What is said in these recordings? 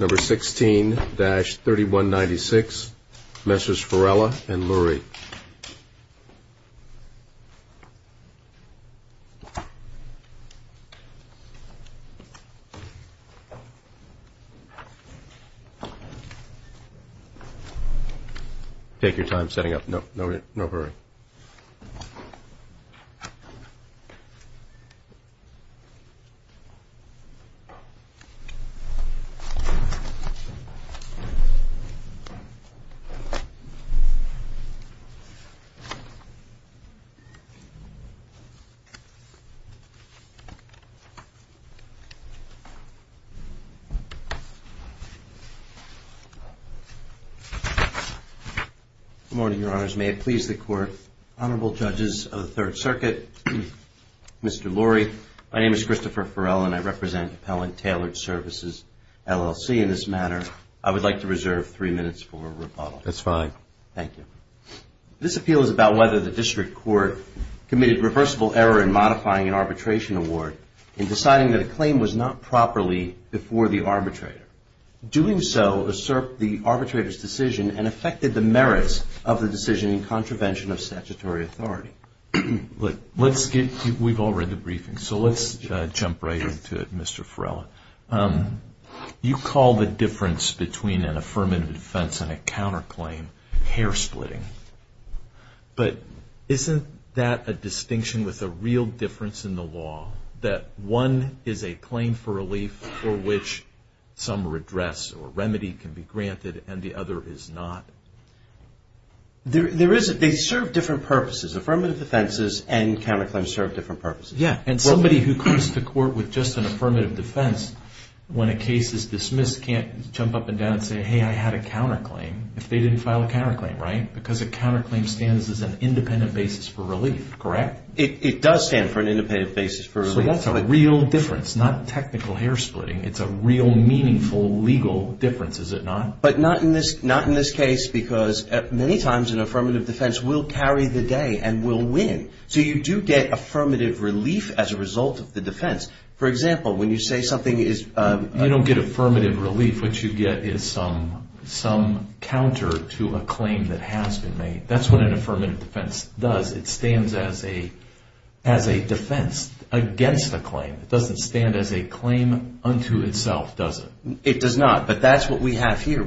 Number 16-3196, Messrs. Ferrella and Lurie. Take your time setting up. No hurry. Good morning, your honors. May it please the court, honorable judges of the Third Circuit, Mr. Lurie. My name is Christopher Ferrella and I represent Appellant Taylored Services, LLC. In this matter, I would like to reserve three minutes for rebuttal. That's fine. Thank you. This appeal is about whether the district court committed reversible error in modifying an arbitration award in deciding that a claim was not properly before the arbitrator. Doing so usurped the arbitrator's decision and affected the merits of the decision in contravention of statutory authority. We've all read the briefing, so let's jump right into it, Mr. Ferrella. You call the difference between an affirmative defense and a counterclaim hair-splitting. But isn't that a distinction with a real difference in the law, that one is a claim for relief for which some redress or remedy can be granted and the other is not? They serve different purposes. Affirmative defenses and counterclaims serve different purposes. Yeah. And somebody who comes to court with just an affirmative defense, when a case is dismissed, can't jump up and down and say, hey, I had a counterclaim if they didn't file a counterclaim, right? Because a counterclaim stands as an independent basis for relief, correct? It does stand for an independent basis for relief. So that's a real difference, not technical hair-splitting. It's a real meaningful legal difference, is it not? But not in this case because many times an affirmative defense will carry the day and will win. So you do get affirmative relief as a result of the defense. For example, when you say something is- You don't get affirmative relief. What you get is some counter to a claim that has been made. That's what an affirmative defense does. It stands as a defense against a claim. It doesn't stand as a claim unto itself, does it? It does not, but that's what we have here.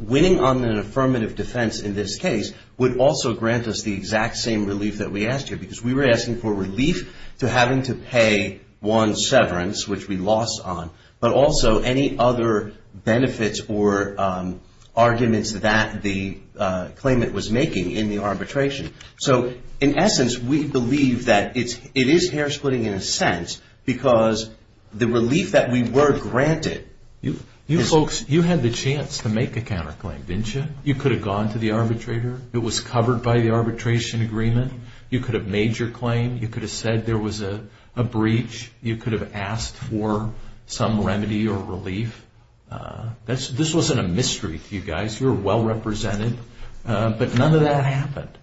Winning on an affirmative defense in this case would also grant us the exact same relief that we asked you because we were asking for relief to having to pay one severance, which we lost on, but also any other benefits or arguments that the claimant was making in the arbitration. So in essence, we believe that it is hair-splitting in a sense because the relief that we were granted- You folks, you had the chance to make a counterclaim, didn't you? You could have gone to the arbitrator. It was covered by the arbitration agreement. You could have made your claim. You could have said there was a breach. You could have asked for some remedy or relief. This wasn't a mystery to you guys. You were well-represented, but none of that happened.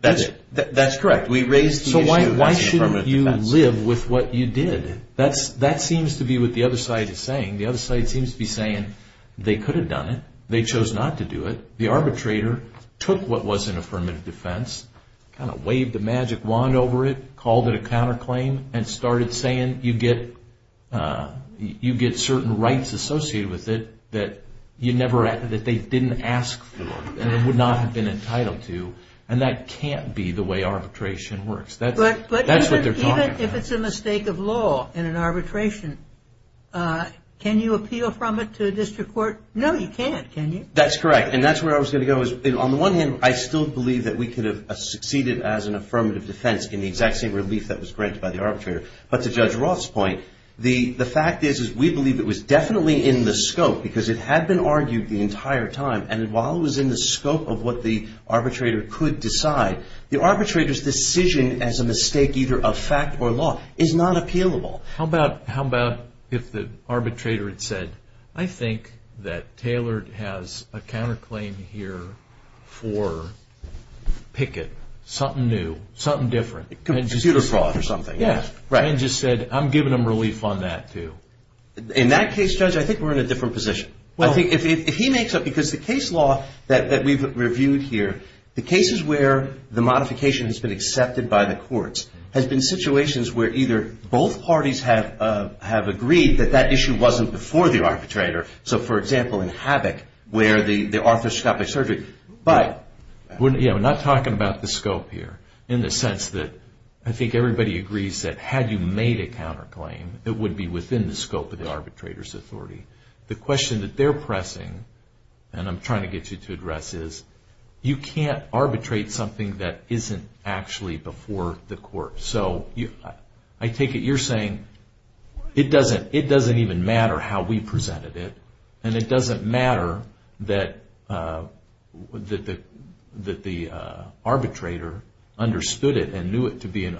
That's correct. We raised the issue. So why shouldn't you live with what you did? That seems to be what the other side is saying. The other side seems to be saying they could have done it. They chose not to do it. The arbitrator took what was an affirmative defense, kind of waved a magic wand over it, called it a counterclaim, and started saying you get certain rights associated with it that they didn't ask for and would not have been entitled to, and that can't be the way arbitration works. That's what they're talking about. Even if it's a mistake of law in an arbitration, can you appeal from it to a district court? No, you can't, can you? That's correct, and that's where I was going to go. On the one hand, I still believe that we could have succeeded as an affirmative defense in the exact same relief that was granted by the arbitrator, but to Judge Roth's point, the fact is we believe it was definitely in the scope because it had been argued the entire time, and while it was in the scope of what the arbitrator could decide, the arbitrator's decision as a mistake either of fact or law is not appealable. How about if the arbitrator had said, I think that Taylor has a counterclaim here for Pickett, something new, something different. Computer fraud or something. Yeah, and just said, I'm giving them relief on that too. In that case, Judge, I think we're in a different position. I think if he makes up, because the case law that we've reviewed here, the cases where the modification has been accepted by the courts has been situations where either both parties have agreed that that issue wasn't before the arbitrator. So, for example, in Havoc where the arthroscopic surgery, but... Yeah, we're not talking about the scope here in the sense that I think everybody agrees that had you made a counterclaim, it would be within the scope of the arbitrator's authority. The question that they're pressing, and I'm trying to get you to address, is you can't arbitrate something that isn't actually before the court. So, I take it you're saying it doesn't even matter how we presented it, and it doesn't matter that the arbitrator understood it and knew it to be an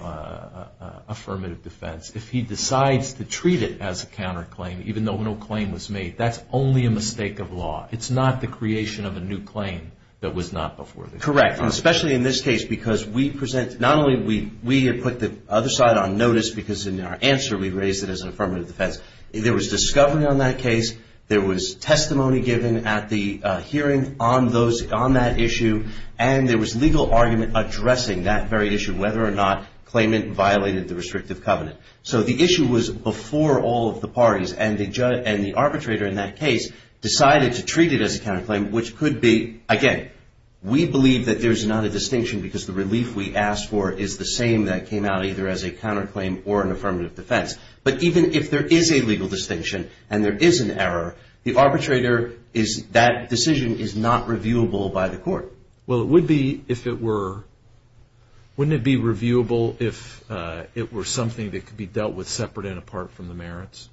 affirmative defense. If he decides to treat it as a counterclaim, even though no claim was made, that's only a mistake of law. It's not the creation of a new claim that was not before the court. Correct, and especially in this case because we present, not only we put the other side on notice because in our answer we raised it as an affirmative defense. There was discovery on that case. There was testimony given at the hearing on that issue, and there was legal argument addressing that very issue, whether or not claimant violated the restrictive covenant. So, the issue was before all of the parties, and the arbitrator in that case decided to treat it as a counterclaim, which could be, again, we believe that there's not a distinction because the relief we asked for is the same that came out either as a counterclaim or an affirmative defense. But even if there is a legal distinction and there is an error, the arbitrator is, that decision is not reviewable by the court. Well, it would be if it were. Wouldn't it be reviewable if it were something that could be dealt with separate and apart from the merits?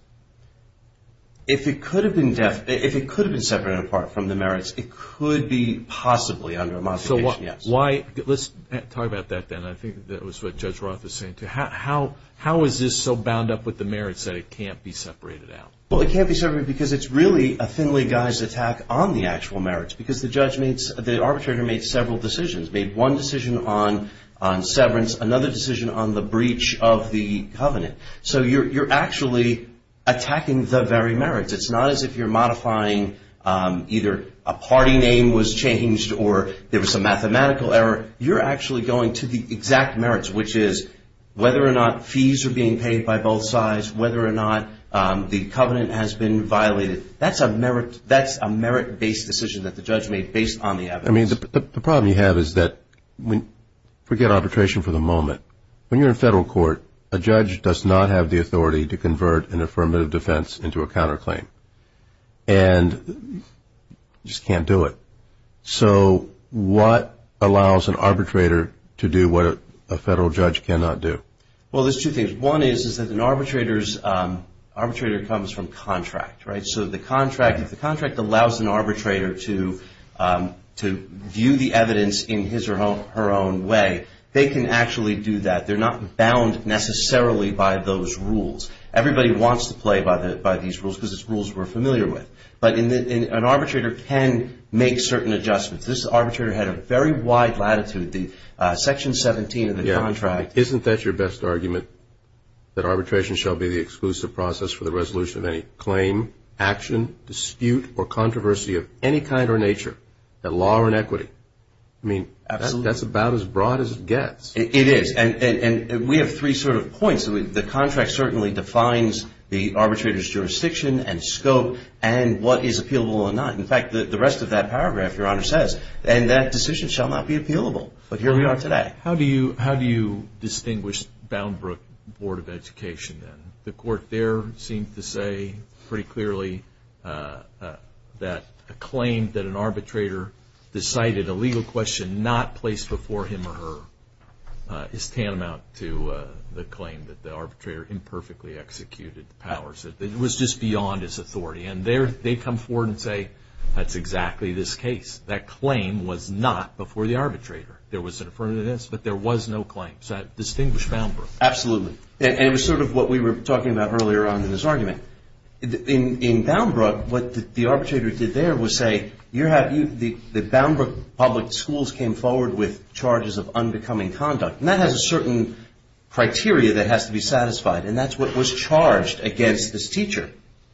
If it could have been separate and apart from the merits, it could be possibly under a modification, yes. Let's talk about that then. I think that was what Judge Roth was saying too. How is this so bound up with the merits that it can't be separated out? Well, it can't be separated because it's really a thinly guised attack on the actual merits because the arbitrator made several decisions, made one decision on severance, another decision on the breach of the covenant. So you're actually attacking the very merits. It's not as if you're modifying either a party name was changed or there was a mathematical error. You're actually going to the exact merits, which is whether or not fees are being paid by both sides, whether or not the covenant has been violated. That's a merit-based decision that the judge made based on the evidence. I mean, the problem you have is that forget arbitration for the moment. When you're in federal court, a judge does not have the authority to convert an affirmative defense into a counterclaim and just can't do it. So what allows an arbitrator to do what a federal judge cannot do? Well, there's two things. One is that an arbitrator comes from contract, right? So if the contract allows an arbitrator to view the evidence in his or her own way, they can actually do that. They're not bound necessarily by those rules. Everybody wants to play by these rules because it's rules we're familiar with. But an arbitrator can make certain adjustments. This arbitrator had a very wide latitude. Section 17 of the contract. Isn't that your best argument, that arbitration shall be the exclusive process for the resolution of any claim, action, dispute, or controversy of any kind or nature, at law or in equity? I mean, that's about as broad as it gets. It is. And we have three sort of points. The contract certainly defines the arbitrator's jurisdiction and scope and what is appealable or not. In fact, the rest of that paragraph, Your Honor, says, and that decision shall not be appealable. But here we are today. How do you distinguish Boundbrook Board of Education then? The court there seemed to say pretty clearly that a claim that an arbitrator decided a legal question not placed before him or her is tantamount to the claim that the arbitrator imperfectly executed the powers. It was just beyond his authority. And there they come forward and say, that's exactly this case. That claim was not before the arbitrator. There was an affirmativeness, but there was no claim. So I distinguish Boundbrook. Absolutely. And it was sort of what we were talking about earlier on in this argument. In Boundbrook, what the arbitrator did there was say, the Boundbrook public schools came forward with charges of unbecoming conduct. And that has a certain criteria that has to be satisfied, and that's what was charged against this teacher.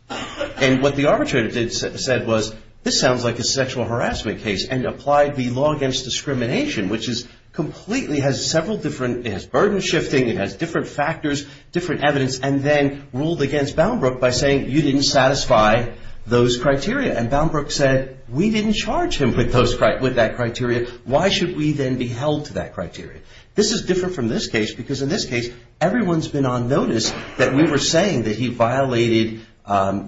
And what the arbitrator said was, this sounds like a sexual harassment case, and applied the law against discrimination, which completely has several different, it has burden shifting, it has different factors, different evidence, and then ruled against Boundbrook by saying, you didn't satisfy those criteria. And Boundbrook said, we didn't charge him with that criteria. Why should we then be held to that criteria? This is different from this case, because in this case, everyone's been on notice that we were saying that he violated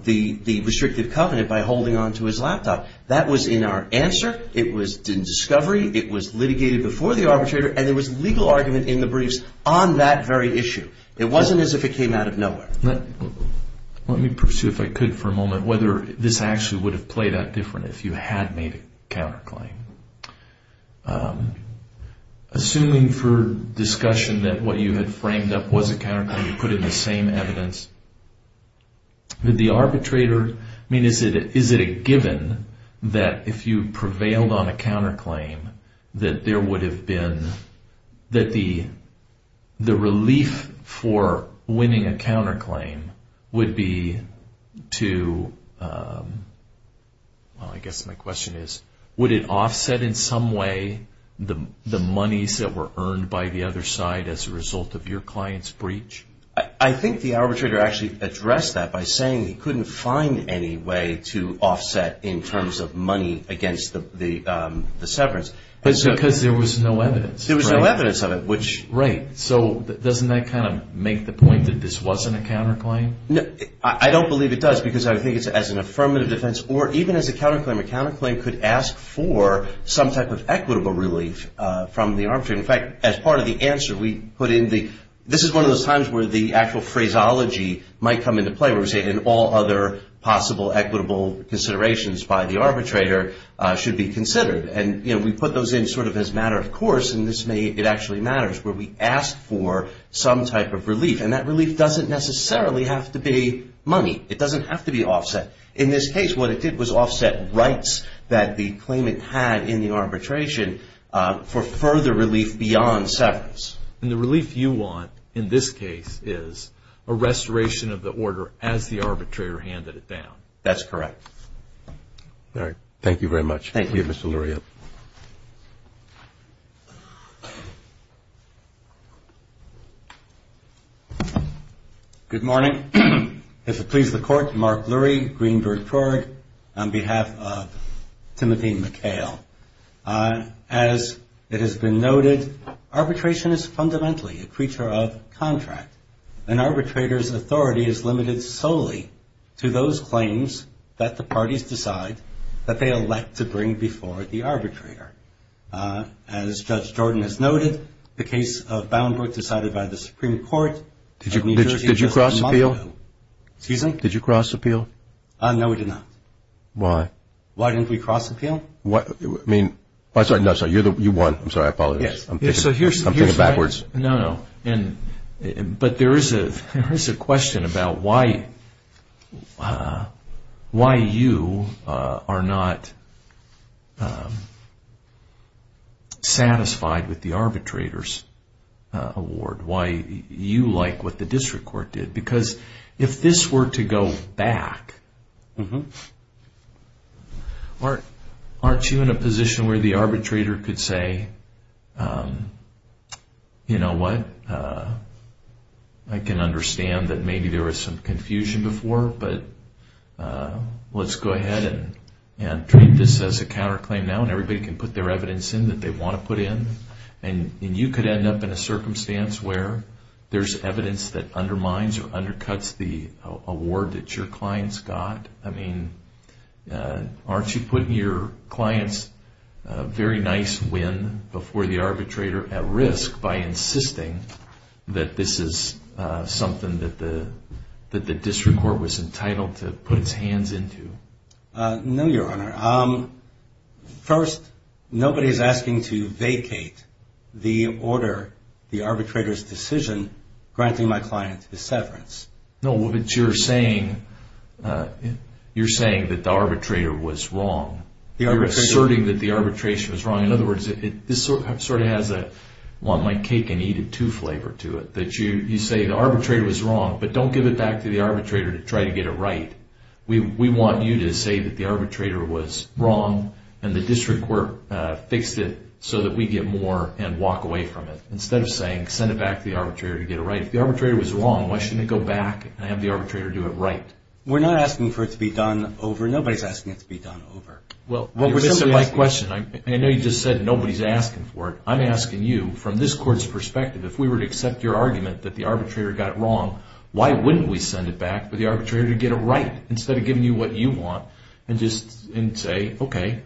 the restrictive covenant by holding onto his laptop. That was in our answer. It was in discovery. It was litigated before the arbitrator. And there was legal argument in the briefs on that very issue. It wasn't as if it came out of nowhere. Let me pursue, if I could, for a moment, whether this actually would have played out different if you had made a counterclaim. Assuming for discussion that what you had framed up was a counterclaim, you put in the same evidence, would the arbitrator, I mean, is it a given that if you prevailed on a counterclaim, that there would have been, that the relief for winning a counterclaim would be to, well, I guess my question is, would it offset in some way the monies that were earned by the other side as a result of your client's breach? I think the arbitrator actually addressed that by saying he couldn't find any way to offset in terms of money against the severance. Because there was no evidence. There was no evidence of it. Right. So doesn't that kind of make the point that this wasn't a counterclaim? I don't believe it does, because I think it's as an affirmative defense or even as a counterclaim. A counterclaim could ask for some type of equitable relief from the arbitrator. In fact, as part of the answer, we put in the, this is one of those times where the actual phraseology might come into play, where we say in all other possible equitable considerations by the arbitrator should be considered. And, you know, we put those in sort of as a matter of course, and this may, it actually matters, where we ask for some type of relief. And that relief doesn't necessarily have to be money. It doesn't have to be offset. In this case, what it did was offset rights that the claimant had in the arbitration for further relief beyond severance. And the relief you want in this case is a restoration of the order as the arbitrator handed it down. That's correct. All right. Thank you very much. Thank you, Mr. Lurie. Good morning. If it pleases the Court, Mark Lurie, Greenberg-Krug on behalf of Timothy McHale. As it has been noted, arbitration is fundamentally a creature of contract. An arbitrator's authority is limited solely to those claims that the parties decide that they elect to bring before the arbitrator. As Judge Jordan has noted, the case of Boundbrook decided by the Supreme Court. Did you cross appeal? Excuse me? Did you cross appeal? No, we did not. Why? Why didn't we cross appeal? I'm sorry, you won. I'm sorry. I apologize. I'm thinking backwards. No, no. But there is a question about why you are not satisfied with the arbitrator's award. Why you like what the district court did. Because if this were to go back, aren't you in a position where the arbitrator could say, you know what? I can understand that maybe there was some confusion before, but let's go ahead and treat this as a counterclaim now. And everybody can put their evidence in that they want to put in. And you could end up in a circumstance where there's evidence that undermines or undercuts the award that your clients got. I mean, aren't you putting your client's very nice win before the arbitrator at risk by insisting that this is something that the district court was entitled to put its hands into? No, Your Honor. First, nobody is asking to vacate the order, the arbitrator's decision, granting my client the severance. No, but you're saying that the arbitrator was wrong. You're asserting that the arbitration was wrong. In other words, this sort of has a want my cake and eat it too flavor to it. That you say the arbitrator was wrong, but don't give it back to the arbitrator to try to get it right. We want you to say that the arbitrator was wrong and the district court fixed it so that we get more and walk away from it. Instead of saying, send it back to the arbitrator to get it right. If the arbitrator was wrong, why shouldn't it go back and have the arbitrator do it right? We're not asking for it to be done over. Nobody's asking it to be done over. Well, this is my question. I know you just said nobody's asking for it. I'm asking you, from this court's perspective, if we were to accept your argument that the arbitrator got it wrong, why wouldn't we send it back for the arbitrator to get it right? Instead of giving you what you want and just say, okay,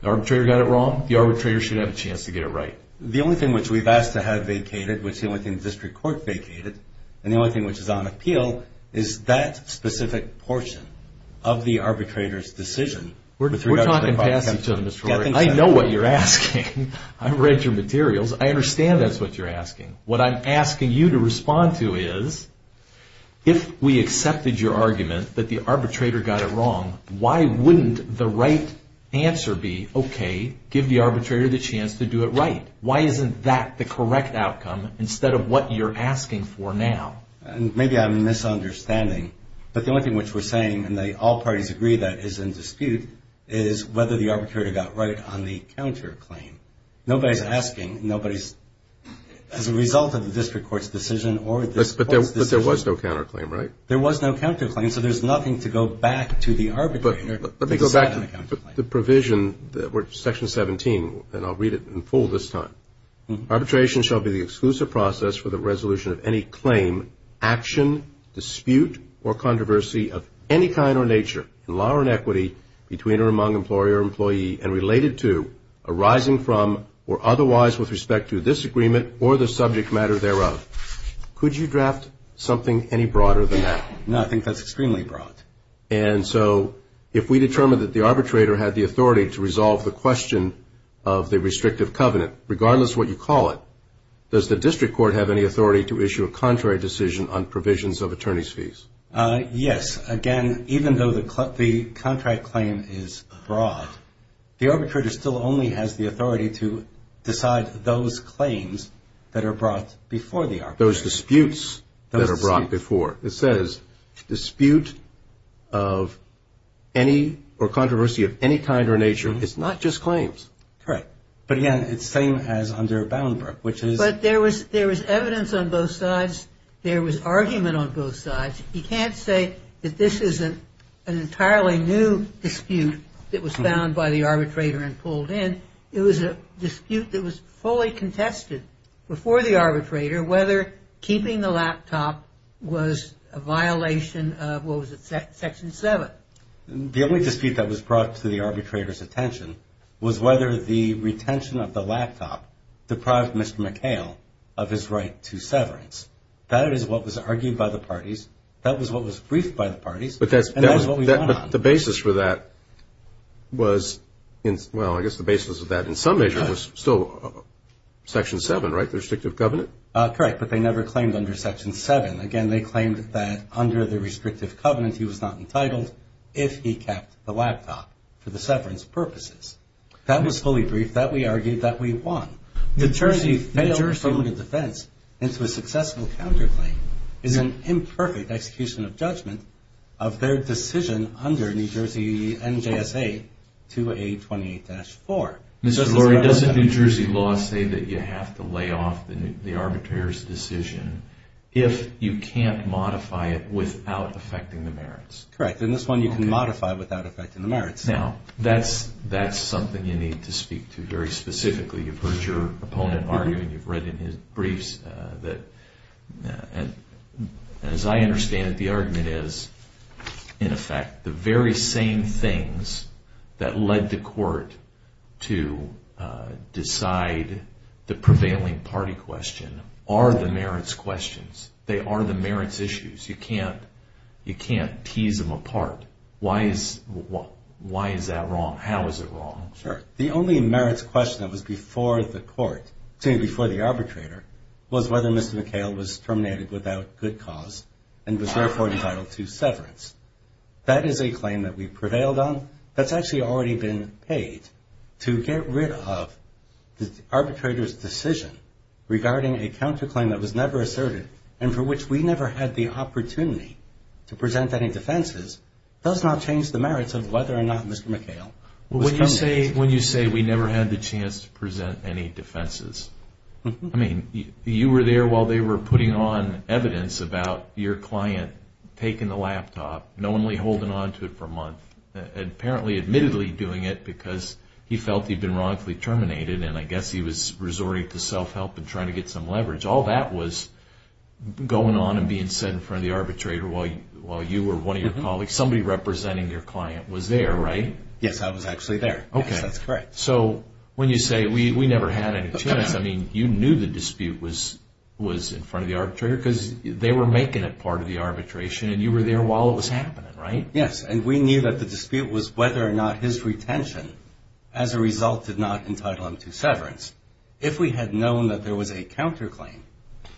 the arbitrator got it wrong. The arbitrator should have a chance to get it right. The only thing which we've asked to have vacated, which the only thing the district court vacated, and the only thing which is on appeal, is that specific portion of the arbitrator's decision. We're talking past each other, Mr. Rory. I know what you're asking. I read your materials. I understand that's what you're asking. What I'm asking you to respond to is, if we accepted your argument that the arbitrator got it wrong, why wouldn't the right answer be, okay, give the arbitrator the chance to do it right? Why isn't that the correct outcome instead of what you're asking for now? Maybe I'm misunderstanding, but the only thing which we're saying, and all parties agree that is in dispute, is whether the arbitrator got right on the counterclaim. Nobody's asking. Nobody's as a result of the district court's decision or the court's decision. But there was no counterclaim, right? There was no counterclaim, so there's nothing to go back to the arbitrator to decide on a counterclaim. But the provision, Section 17, and I'll read it in full this time. Arbitration shall be the exclusive process for the resolution of any claim, action, dispute, or controversy of any kind or nature, in law or in equity, between or among employer or employee, and related to, arising from or otherwise with respect to this agreement or the subject matter thereof. Could you draft something any broader than that? No, I think that's extremely broad. And so if we determine that the arbitrator had the authority to resolve the question of the restrictive covenant, regardless of what you call it, does the district court have any authority to issue a contrary decision on provisions of attorney's fees? Yes. Again, even though the contract claim is broad, the arbitrator still only has the authority to decide those claims that are brought before the arbitrator. Those disputes that are brought before. It says dispute of any or controversy of any kind or nature. It's not just claims. Correct. But again, it's the same as under Boundbrook, which is. But there was evidence on both sides. There was argument on both sides. You can't say that this isn't an entirely new dispute that was found by the arbitrator and pulled in. It was a dispute that was fully contested before the arbitrator, whether keeping the laptop was a violation of what was it, Section 7. The only dispute that was brought to the arbitrator's attention was whether the retention of the laptop deprived Mr. McHale of his right to severance. That is what was argued by the parties. That was what was briefed by the parties. But that's what we want. The basis for that was, well, I guess the basis of that in some measure was still Section 7, right, the restrictive covenant? Correct. But they never claimed under Section 7. Again, they claimed that under the restrictive covenant he was not entitled if he kept the laptop for the severance purposes. That was fully briefed. That we argued that we want. The Jersey failed affirmative defense into a successful counterclaim is an imperfect execution of judgment of their decision under New Jersey NJSA 2A28-4. Mr. Lurie, doesn't New Jersey law say that you have to lay off the arbitrator's decision if you can't modify it without affecting the merits? Correct. In this one, you can modify without affecting the merits. Now, that's something you need to speak to very specifically. You've heard your opponent argue and you've read in his briefs that, as I understand it, the argument is, in effect, the very same things that led the court to decide the prevailing party question are the merits questions. They are the merits issues. You can't tease them apart. How is it wrong? Sure. The only merits question that was before the arbitrator was whether Mr. McHale was terminated without good cause and was therefore entitled to severance. That is a claim that we prevailed on. That's actually already been paid to get rid of the arbitrator's decision regarding a counterclaim that was never asserted and for which we never had the opportunity to present any defenses does not change the merits of whether or not Mr. McHale was terminated. When you say we never had the chance to present any defenses, I mean, you were there while they were putting on evidence about your client taking the laptop, knowingly holding on to it for a month, and apparently admittedly doing it because he felt he'd been wrongfully terminated and I guess he was resorting to self-help and trying to get some leverage. All that was going on and being said in front of the arbitrator while you or one of your colleagues, somebody representing your client, was there, right? Yes, I was actually there. Okay. Yes, that's correct. So when you say we never had any chance, I mean, you knew the dispute was in front of the arbitrator because they were making it part of the arbitration and you were there while it was happening, right? Yes, and we knew that the dispute was whether or not his retention as a result did not entitle him to severance. If we had known that there was a counterclaim,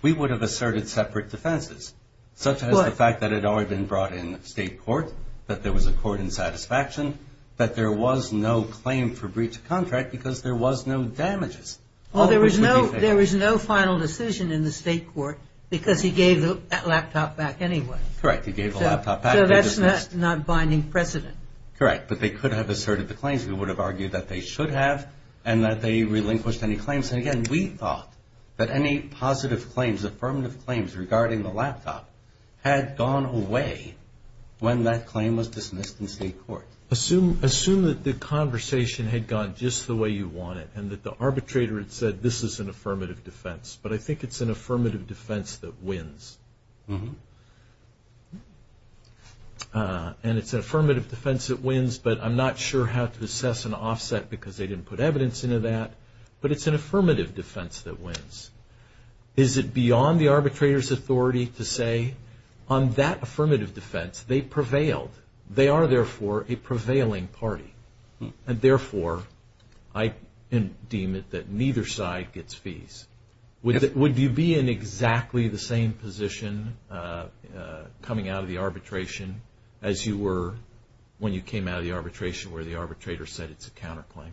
we would have asserted separate defenses, such as the fact that it had already been brought in the state court, that there was a court in satisfaction, that there was no claim for breach of contract because there was no damages. Well, there was no final decision in the state court because he gave the laptop back anyway. Correct, he gave the laptop back. So that's not binding precedent. Correct, but they could have asserted the claims. We would have argued that they should have and that they relinquished any claims. And again, we thought that any positive claims, affirmative claims regarding the laptop had gone away when that claim was dismissed in the state court. Assume that the conversation had gone just the way you wanted and that the arbitrator had said this is an affirmative defense, but I think it's an affirmative defense that wins. And it's an affirmative defense that wins, but I'm not sure how to assess an offset because they didn't put evidence into that. But it's an affirmative defense that wins. Is it beyond the arbitrator's authority to say on that affirmative defense they prevailed? They are, therefore, a prevailing party. And therefore, I deem it that neither side gets fees. Would you be in exactly the same position coming out of the arbitration as you were when you came out of the arbitration where the arbitrator said it's a counterclaim?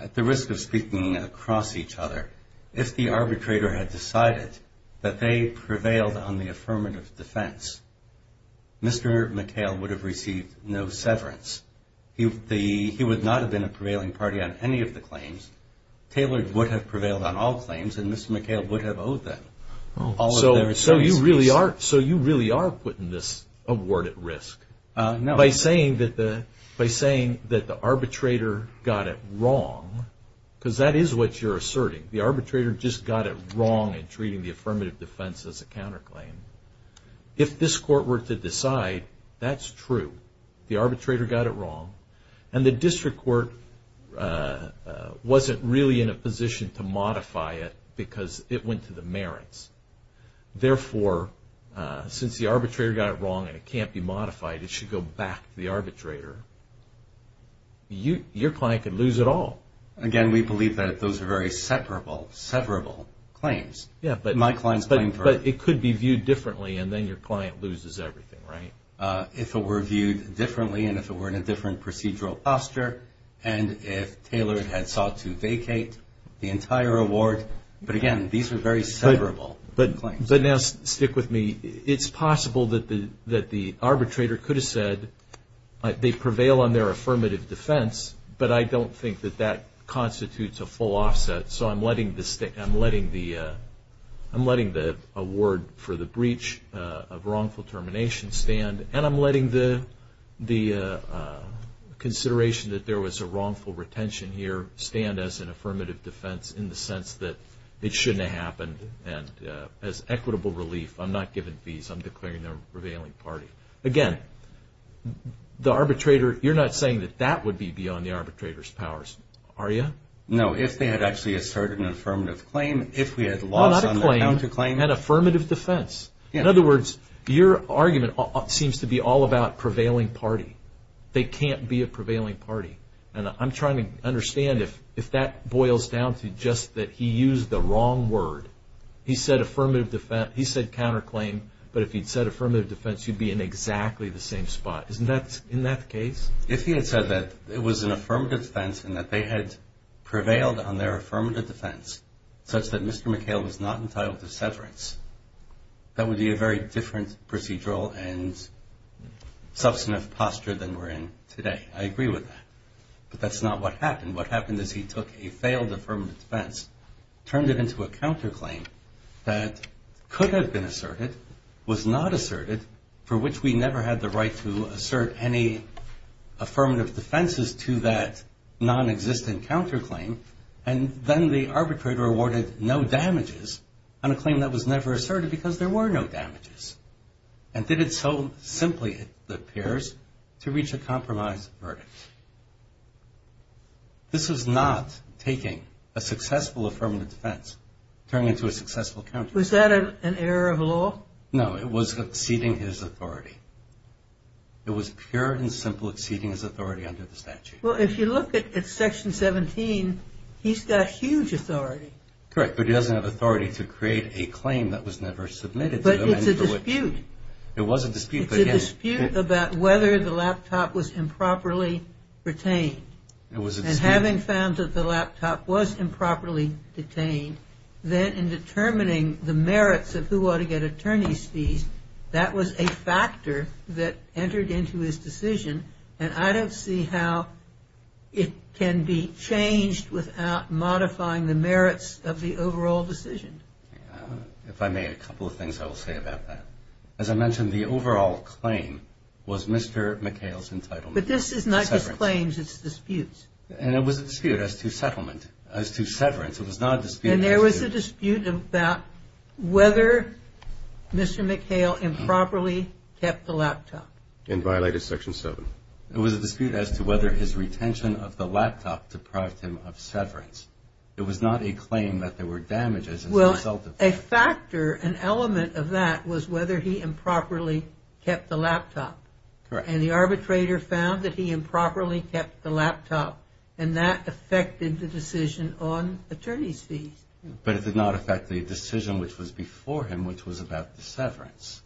At the risk of speaking across each other, if the arbitrator had decided that they prevailed on the affirmative defense, Mr. McHale would have received no severance. He would not have been a prevailing party on any of the claims. Taylor would have prevailed on all claims and Mr. McHale would have owed them. So you really are putting this award at risk. By saying that the arbitrator got it wrong, because that is what you're asserting. The arbitrator just got it wrong in treating the affirmative defense as a counterclaim. If this court were to decide that's true. The arbitrator got it wrong. And the district court wasn't really in a position to modify it because it went to the merits. Therefore, since the arbitrator got it wrong and it can't be modified, it should go back to the arbitrator. Your client could lose it all. Again, we believe that those are very severable claims. But it could be viewed differently and then your client loses everything, right? If it were viewed differently and if it were in a different procedural posture and if Taylor had sought to vacate the entire award. But again, these are very severable claims. But now stick with me. It's possible that the arbitrator could have said they prevail on their affirmative defense, but I don't think that that constitutes a full offset. So I'm letting the award for the breach of wrongful termination stand and I'm letting the consideration that there was a wrongful retention here stand as an affirmative defense in the sense that it shouldn't have happened. And as equitable relief, I'm not giving fees. I'm declaring them a prevailing party. Again, the arbitrator, you're not saying that that would be beyond the arbitrator's powers, are you? No, if they had actually asserted an affirmative claim. If we had lost on the counterclaim. Not a claim, an affirmative defense. In other words, your argument seems to be all about prevailing party. They can't be a prevailing party. And I'm trying to understand if that boils down to just that he used the wrong word. He said counterclaim, but if he'd said affirmative defense, he'd be in exactly the same spot. Isn't that the case? If he had said that it was an affirmative defense and that they had prevailed on their affirmative defense, such that Mr. McHale was not entitled to severance, that would be a very different procedural and substantive posture than we're in today. I agree with that. But that's not what happened. What happened is he took a failed affirmative defense, turned it into a counterclaim that could have been asserted, was not asserted, for which we never had the right to assert any affirmative defenses to that nonexistent counterclaim. And then the arbitrator awarded no damages on a claim that was never asserted because there were no damages. And did it so simply, it appears, to reach a compromise verdict. This was not taking a successful affirmative defense, turning it into a successful counterclaim. Was that an error of law? No, it was exceeding his authority. It was pure and simple exceeding his authority under the statute. Well, if you look at Section 17, he's got huge authority. Correct, but he doesn't have authority to create a claim that was never submitted to him It's a dispute. It was a dispute. It's a dispute about whether the laptop was improperly retained. It was a dispute. And having found that the laptop was improperly detained, then in determining the merits of who ought to get attorney's fees, that was a factor that entered into his decision. And I don't see how it can be changed without modifying the merits of the overall decision. If I may, a couple of things I will say about that. As I mentioned, the overall claim was Mr. McHale's entitlement. But this is not just claims, it's disputes. And it was a dispute as to settlement, as to severance. It was not a dispute. And there was a dispute about whether Mr. McHale improperly kept the laptop. And violated Section 7. It was a dispute as to whether his retention of the laptop deprived him of severance. It was not a claim that there were damages. Well, a factor, an element of that was whether he improperly kept the laptop. And the arbitrator found that he improperly kept the laptop. And that affected the decision on attorney's fees. But it did not affect the decision which was before him, which was about the severance.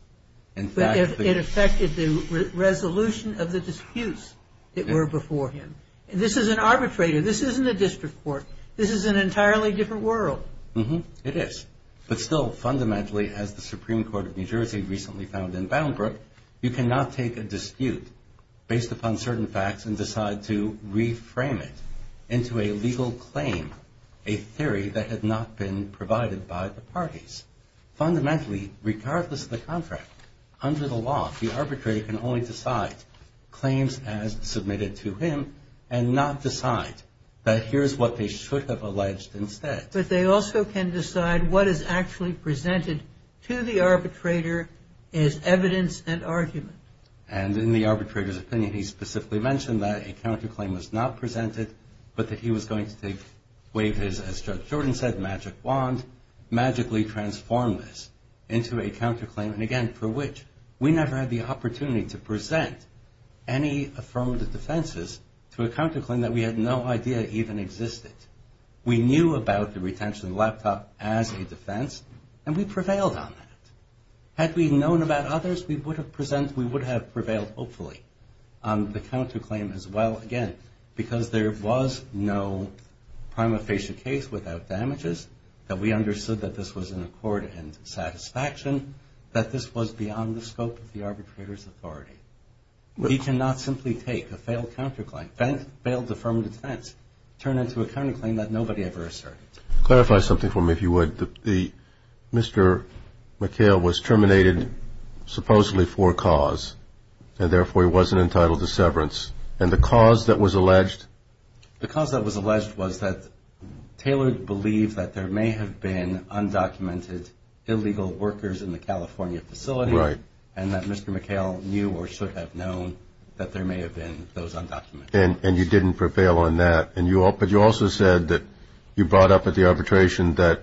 But it affected the resolution of the disputes that were before him. This is an arbitrator. This isn't a district court. This is an entirely different world. It is. But still, fundamentally, as the Supreme Court of New Jersey recently found in Boundbrook, you cannot take a dispute based upon certain facts and decide to reframe it into a legal claim, a theory that had not been provided by the parties. Fundamentally, regardless of the contract, under the law, the arbitrator can only decide claims as submitted to him and not decide that here's what they should have alleged instead. But they also can decide what is actually presented to the arbitrator as evidence and argument. And in the arbitrator's opinion, he specifically mentioned that a counterclaim was not presented but that he was going to waive his, as Judge Jordan said, magic wand, magically transform this into a counterclaim. And, again, for which we never had the opportunity to present any affirmed defenses to a counterclaim that we had no idea even existed. We knew about the retention of the laptop as a defense, and we prevailed on that. Had we known about others, we would have prevailed, hopefully, on the counterclaim as well, again, because there was no prima facie case without damages, that we understood that this was an accord and satisfaction, that this was beyond the scope of the arbitrator's authority. He cannot simply take a failed counterclaim, turn it into a counterclaim that nobody ever asserted. Clarify something for me, if you would. Mr. McHale was terminated supposedly for a cause, and therefore he wasn't entitled to severance. And the cause that was alleged? The cause that was alleged was that Taylor believed that there may have been undocumented illegal workers in the California facility, and that Mr. McHale knew or should have known that there may have been those undocumented workers. And you didn't prevail on that. But you also said that you brought up at the arbitration that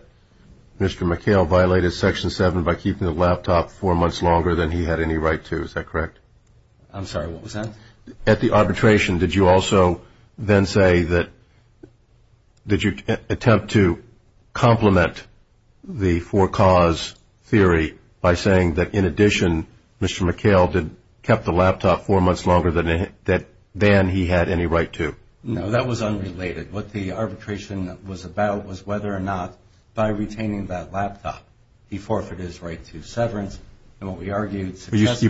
Mr. McHale violated Section 7 by keeping the laptop four months longer than he had any right to. Is that correct? I'm sorry. What was that? At the arbitration, did you also then say that, did you attempt to complement the for cause theory by saying that, in addition, Mr. McHale kept the laptop four months longer than he had any right to? No, that was unrelated. What the arbitration was about was whether or not, by retaining that laptop, he forfeited his right to severance. And what we argued successfully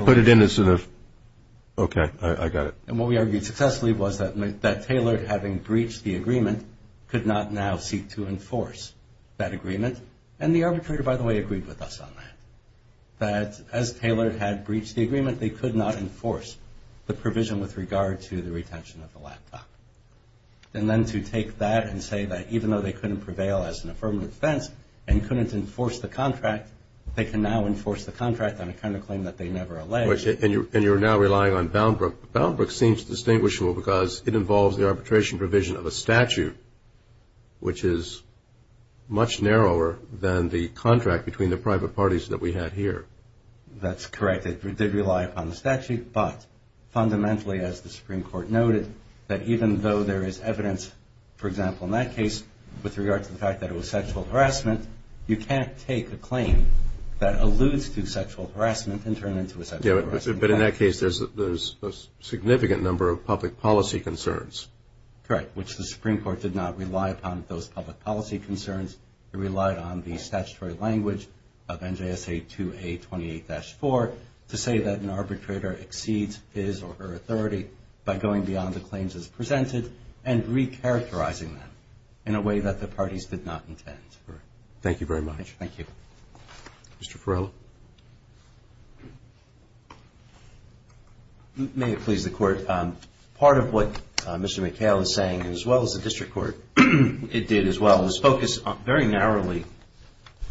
was that Taylor, having breached the agreement, could not now seek to enforce that agreement. And the arbitrator, by the way, agreed with us on that, that as Taylor had breached the agreement, they could not enforce the provision with regard to the retention of the laptop. And then to take that and say that even though they couldn't prevail as an affirmative defense and couldn't enforce the contract, they can now enforce the contract on a counterclaim that they never alleged. And you're now relying on Boundbrook. Boundbrook seems distinguishable because it involves the arbitration provision of a statute, which is much narrower than the contract between the private parties that we had here. That's correct. It did rely upon the statute, but fundamentally, as the Supreme Court noted, that even though there is evidence, for example, in that case, with regard to the fact that it was sexual harassment, you can't take a claim that alludes to sexual harassment and turn it into a sexual harassment claim. But in that case, there's a significant number of public policy concerns. Correct, which the Supreme Court did not rely upon those public policy concerns. It relied on the statutory language of NJSA 2A28-4 to say that an arbitrator exceeds his or her authority by going beyond the claims as presented and recharacterizing them in a way that the parties did not intend. Thank you very much. Thank you. Mr. Farrella. May it please the Court. Part of what Mr. McHale is saying, as well as the district court, it did as well was focus very narrowly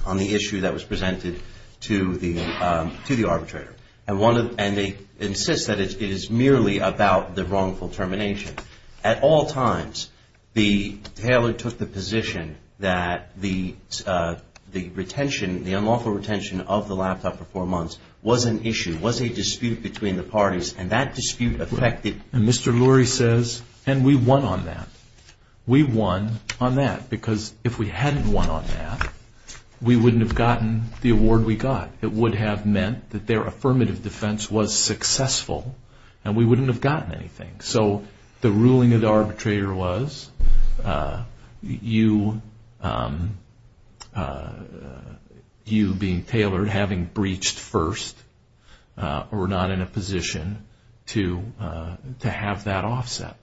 on the issue that was presented to the arbitrator. And they insist that it is merely about the wrongful termination. At all times, Taylor took the position that the retention, the unlawful retention of the laptop for four months was an issue, was a dispute between the parties, and that dispute affected. And Mr. Lurie says, and we won on that. We won on that because if we hadn't won on that, we wouldn't have gotten the award we got. It would have meant that their affirmative defense was successful and we wouldn't have gotten anything. So the ruling of the arbitrator was you being Taylor having breached first or not in a position to have that offset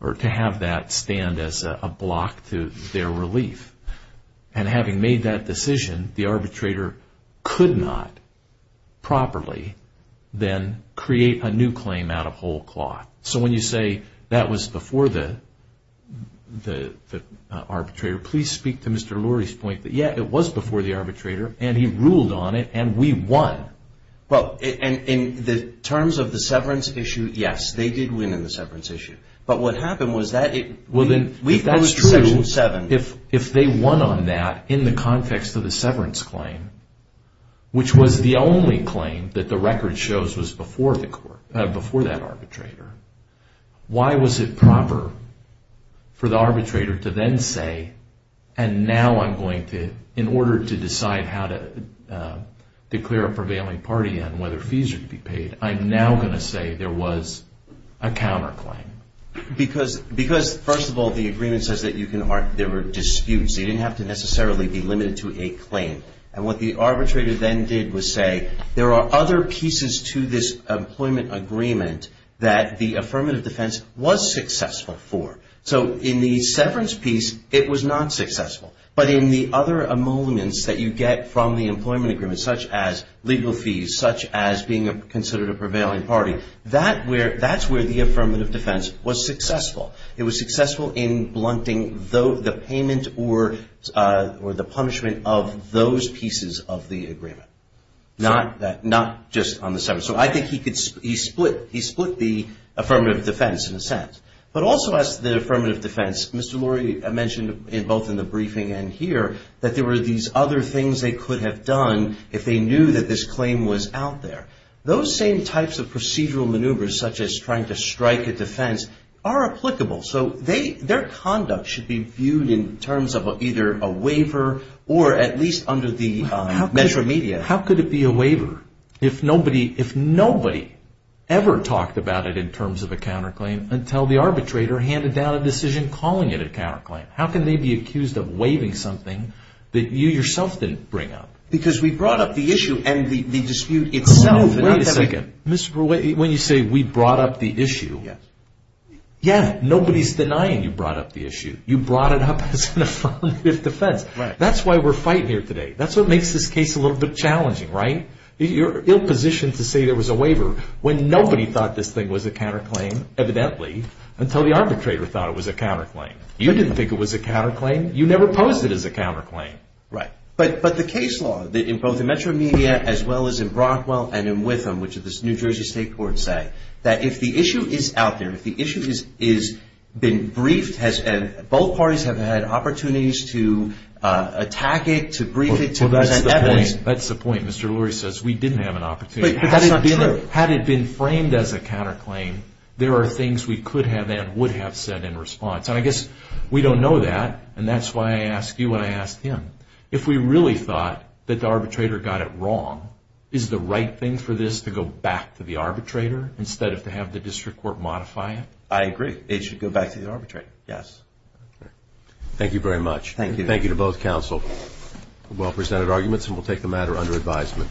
or to have that stand as a block to their relief. And having made that decision, the arbitrator could not properly then create a new claim out of whole cloth. So when you say that was before the arbitrator, please speak to Mr. Lurie's point that, yeah, it was before the arbitrator, and he ruled on it, and we won. Well, in the terms of the severance issue, yes, they did win in the severance issue. But what happened was that it was in Section 7. If they won on that in the context of the severance claim, which was the only claim that the record shows was before that arbitrator, why was it proper for the arbitrator to then say, and now I'm going to, in order to decide how to declare a prevailing party and whether fees are to be paid, I'm now going to say there was a counterclaim? Because, first of all, the agreement says that there were disputes. They didn't have to necessarily be limited to a claim. And what the arbitrator then did was say, there are other pieces to this employment agreement that the affirmative defense was successful for. So in the severance piece, it was not successful. But in the other amendments that you get from the employment agreement, such as legal fees, such as being considered a prevailing party, that's where the affirmative defense was successful. It was successful in blunting the payment or the punishment of those pieces of the agreement. Not just on the severance. So I think he split the affirmative defense in a sense. But also as to the affirmative defense, Mr. Lurie mentioned both in the briefing and here that there were these other things they could have done if they knew that this claim was out there. Those same types of procedural maneuvers, such as trying to strike a defense, are applicable. So their conduct should be viewed in terms of either a waiver or at least under the measure of media. How could it be a waiver if nobody ever talked about it in terms of a counterclaim until the arbitrator handed down a decision calling it a counterclaim? How can they be accused of waiving something that you yourself didn't bring up? Because we brought up the issue and the dispute itself. Wait a second. Mr. Lurie, when you say we brought up the issue, yeah, nobody's denying you brought up the issue. You brought it up as an affirmative defense. That's why we're fighting here today. That's what makes this case a little bit challenging, right? You're in a position to say there was a waiver when nobody thought this thing was a counterclaim, evidently, until the arbitrator thought it was a counterclaim. You didn't think it was a counterclaim. You never posed it as a counterclaim. Right. But the case law, both in Metro Media as well as in Brockwell and in Witham, which is the New Jersey State Court, say that if the issue is out there, if the issue has been briefed, both parties have had opportunities to attack it, to brief it, to present evidence. That's the point. Mr. Lurie says we didn't have an opportunity. But that's not true. Had it been framed as a counterclaim, there are things we could have and would have said in response. And I guess we don't know that, and that's why I asked you what I asked him. If we really thought that the arbitrator got it wrong, is the right thing for this to go back to the arbitrator instead of to have the district court modify it? I agree. It should go back to the arbitrator, yes. Thank you very much. Thank you. Thank you to both counsel for well-presented arguments, and we'll take the matter under advisement. Thank you. Thank you.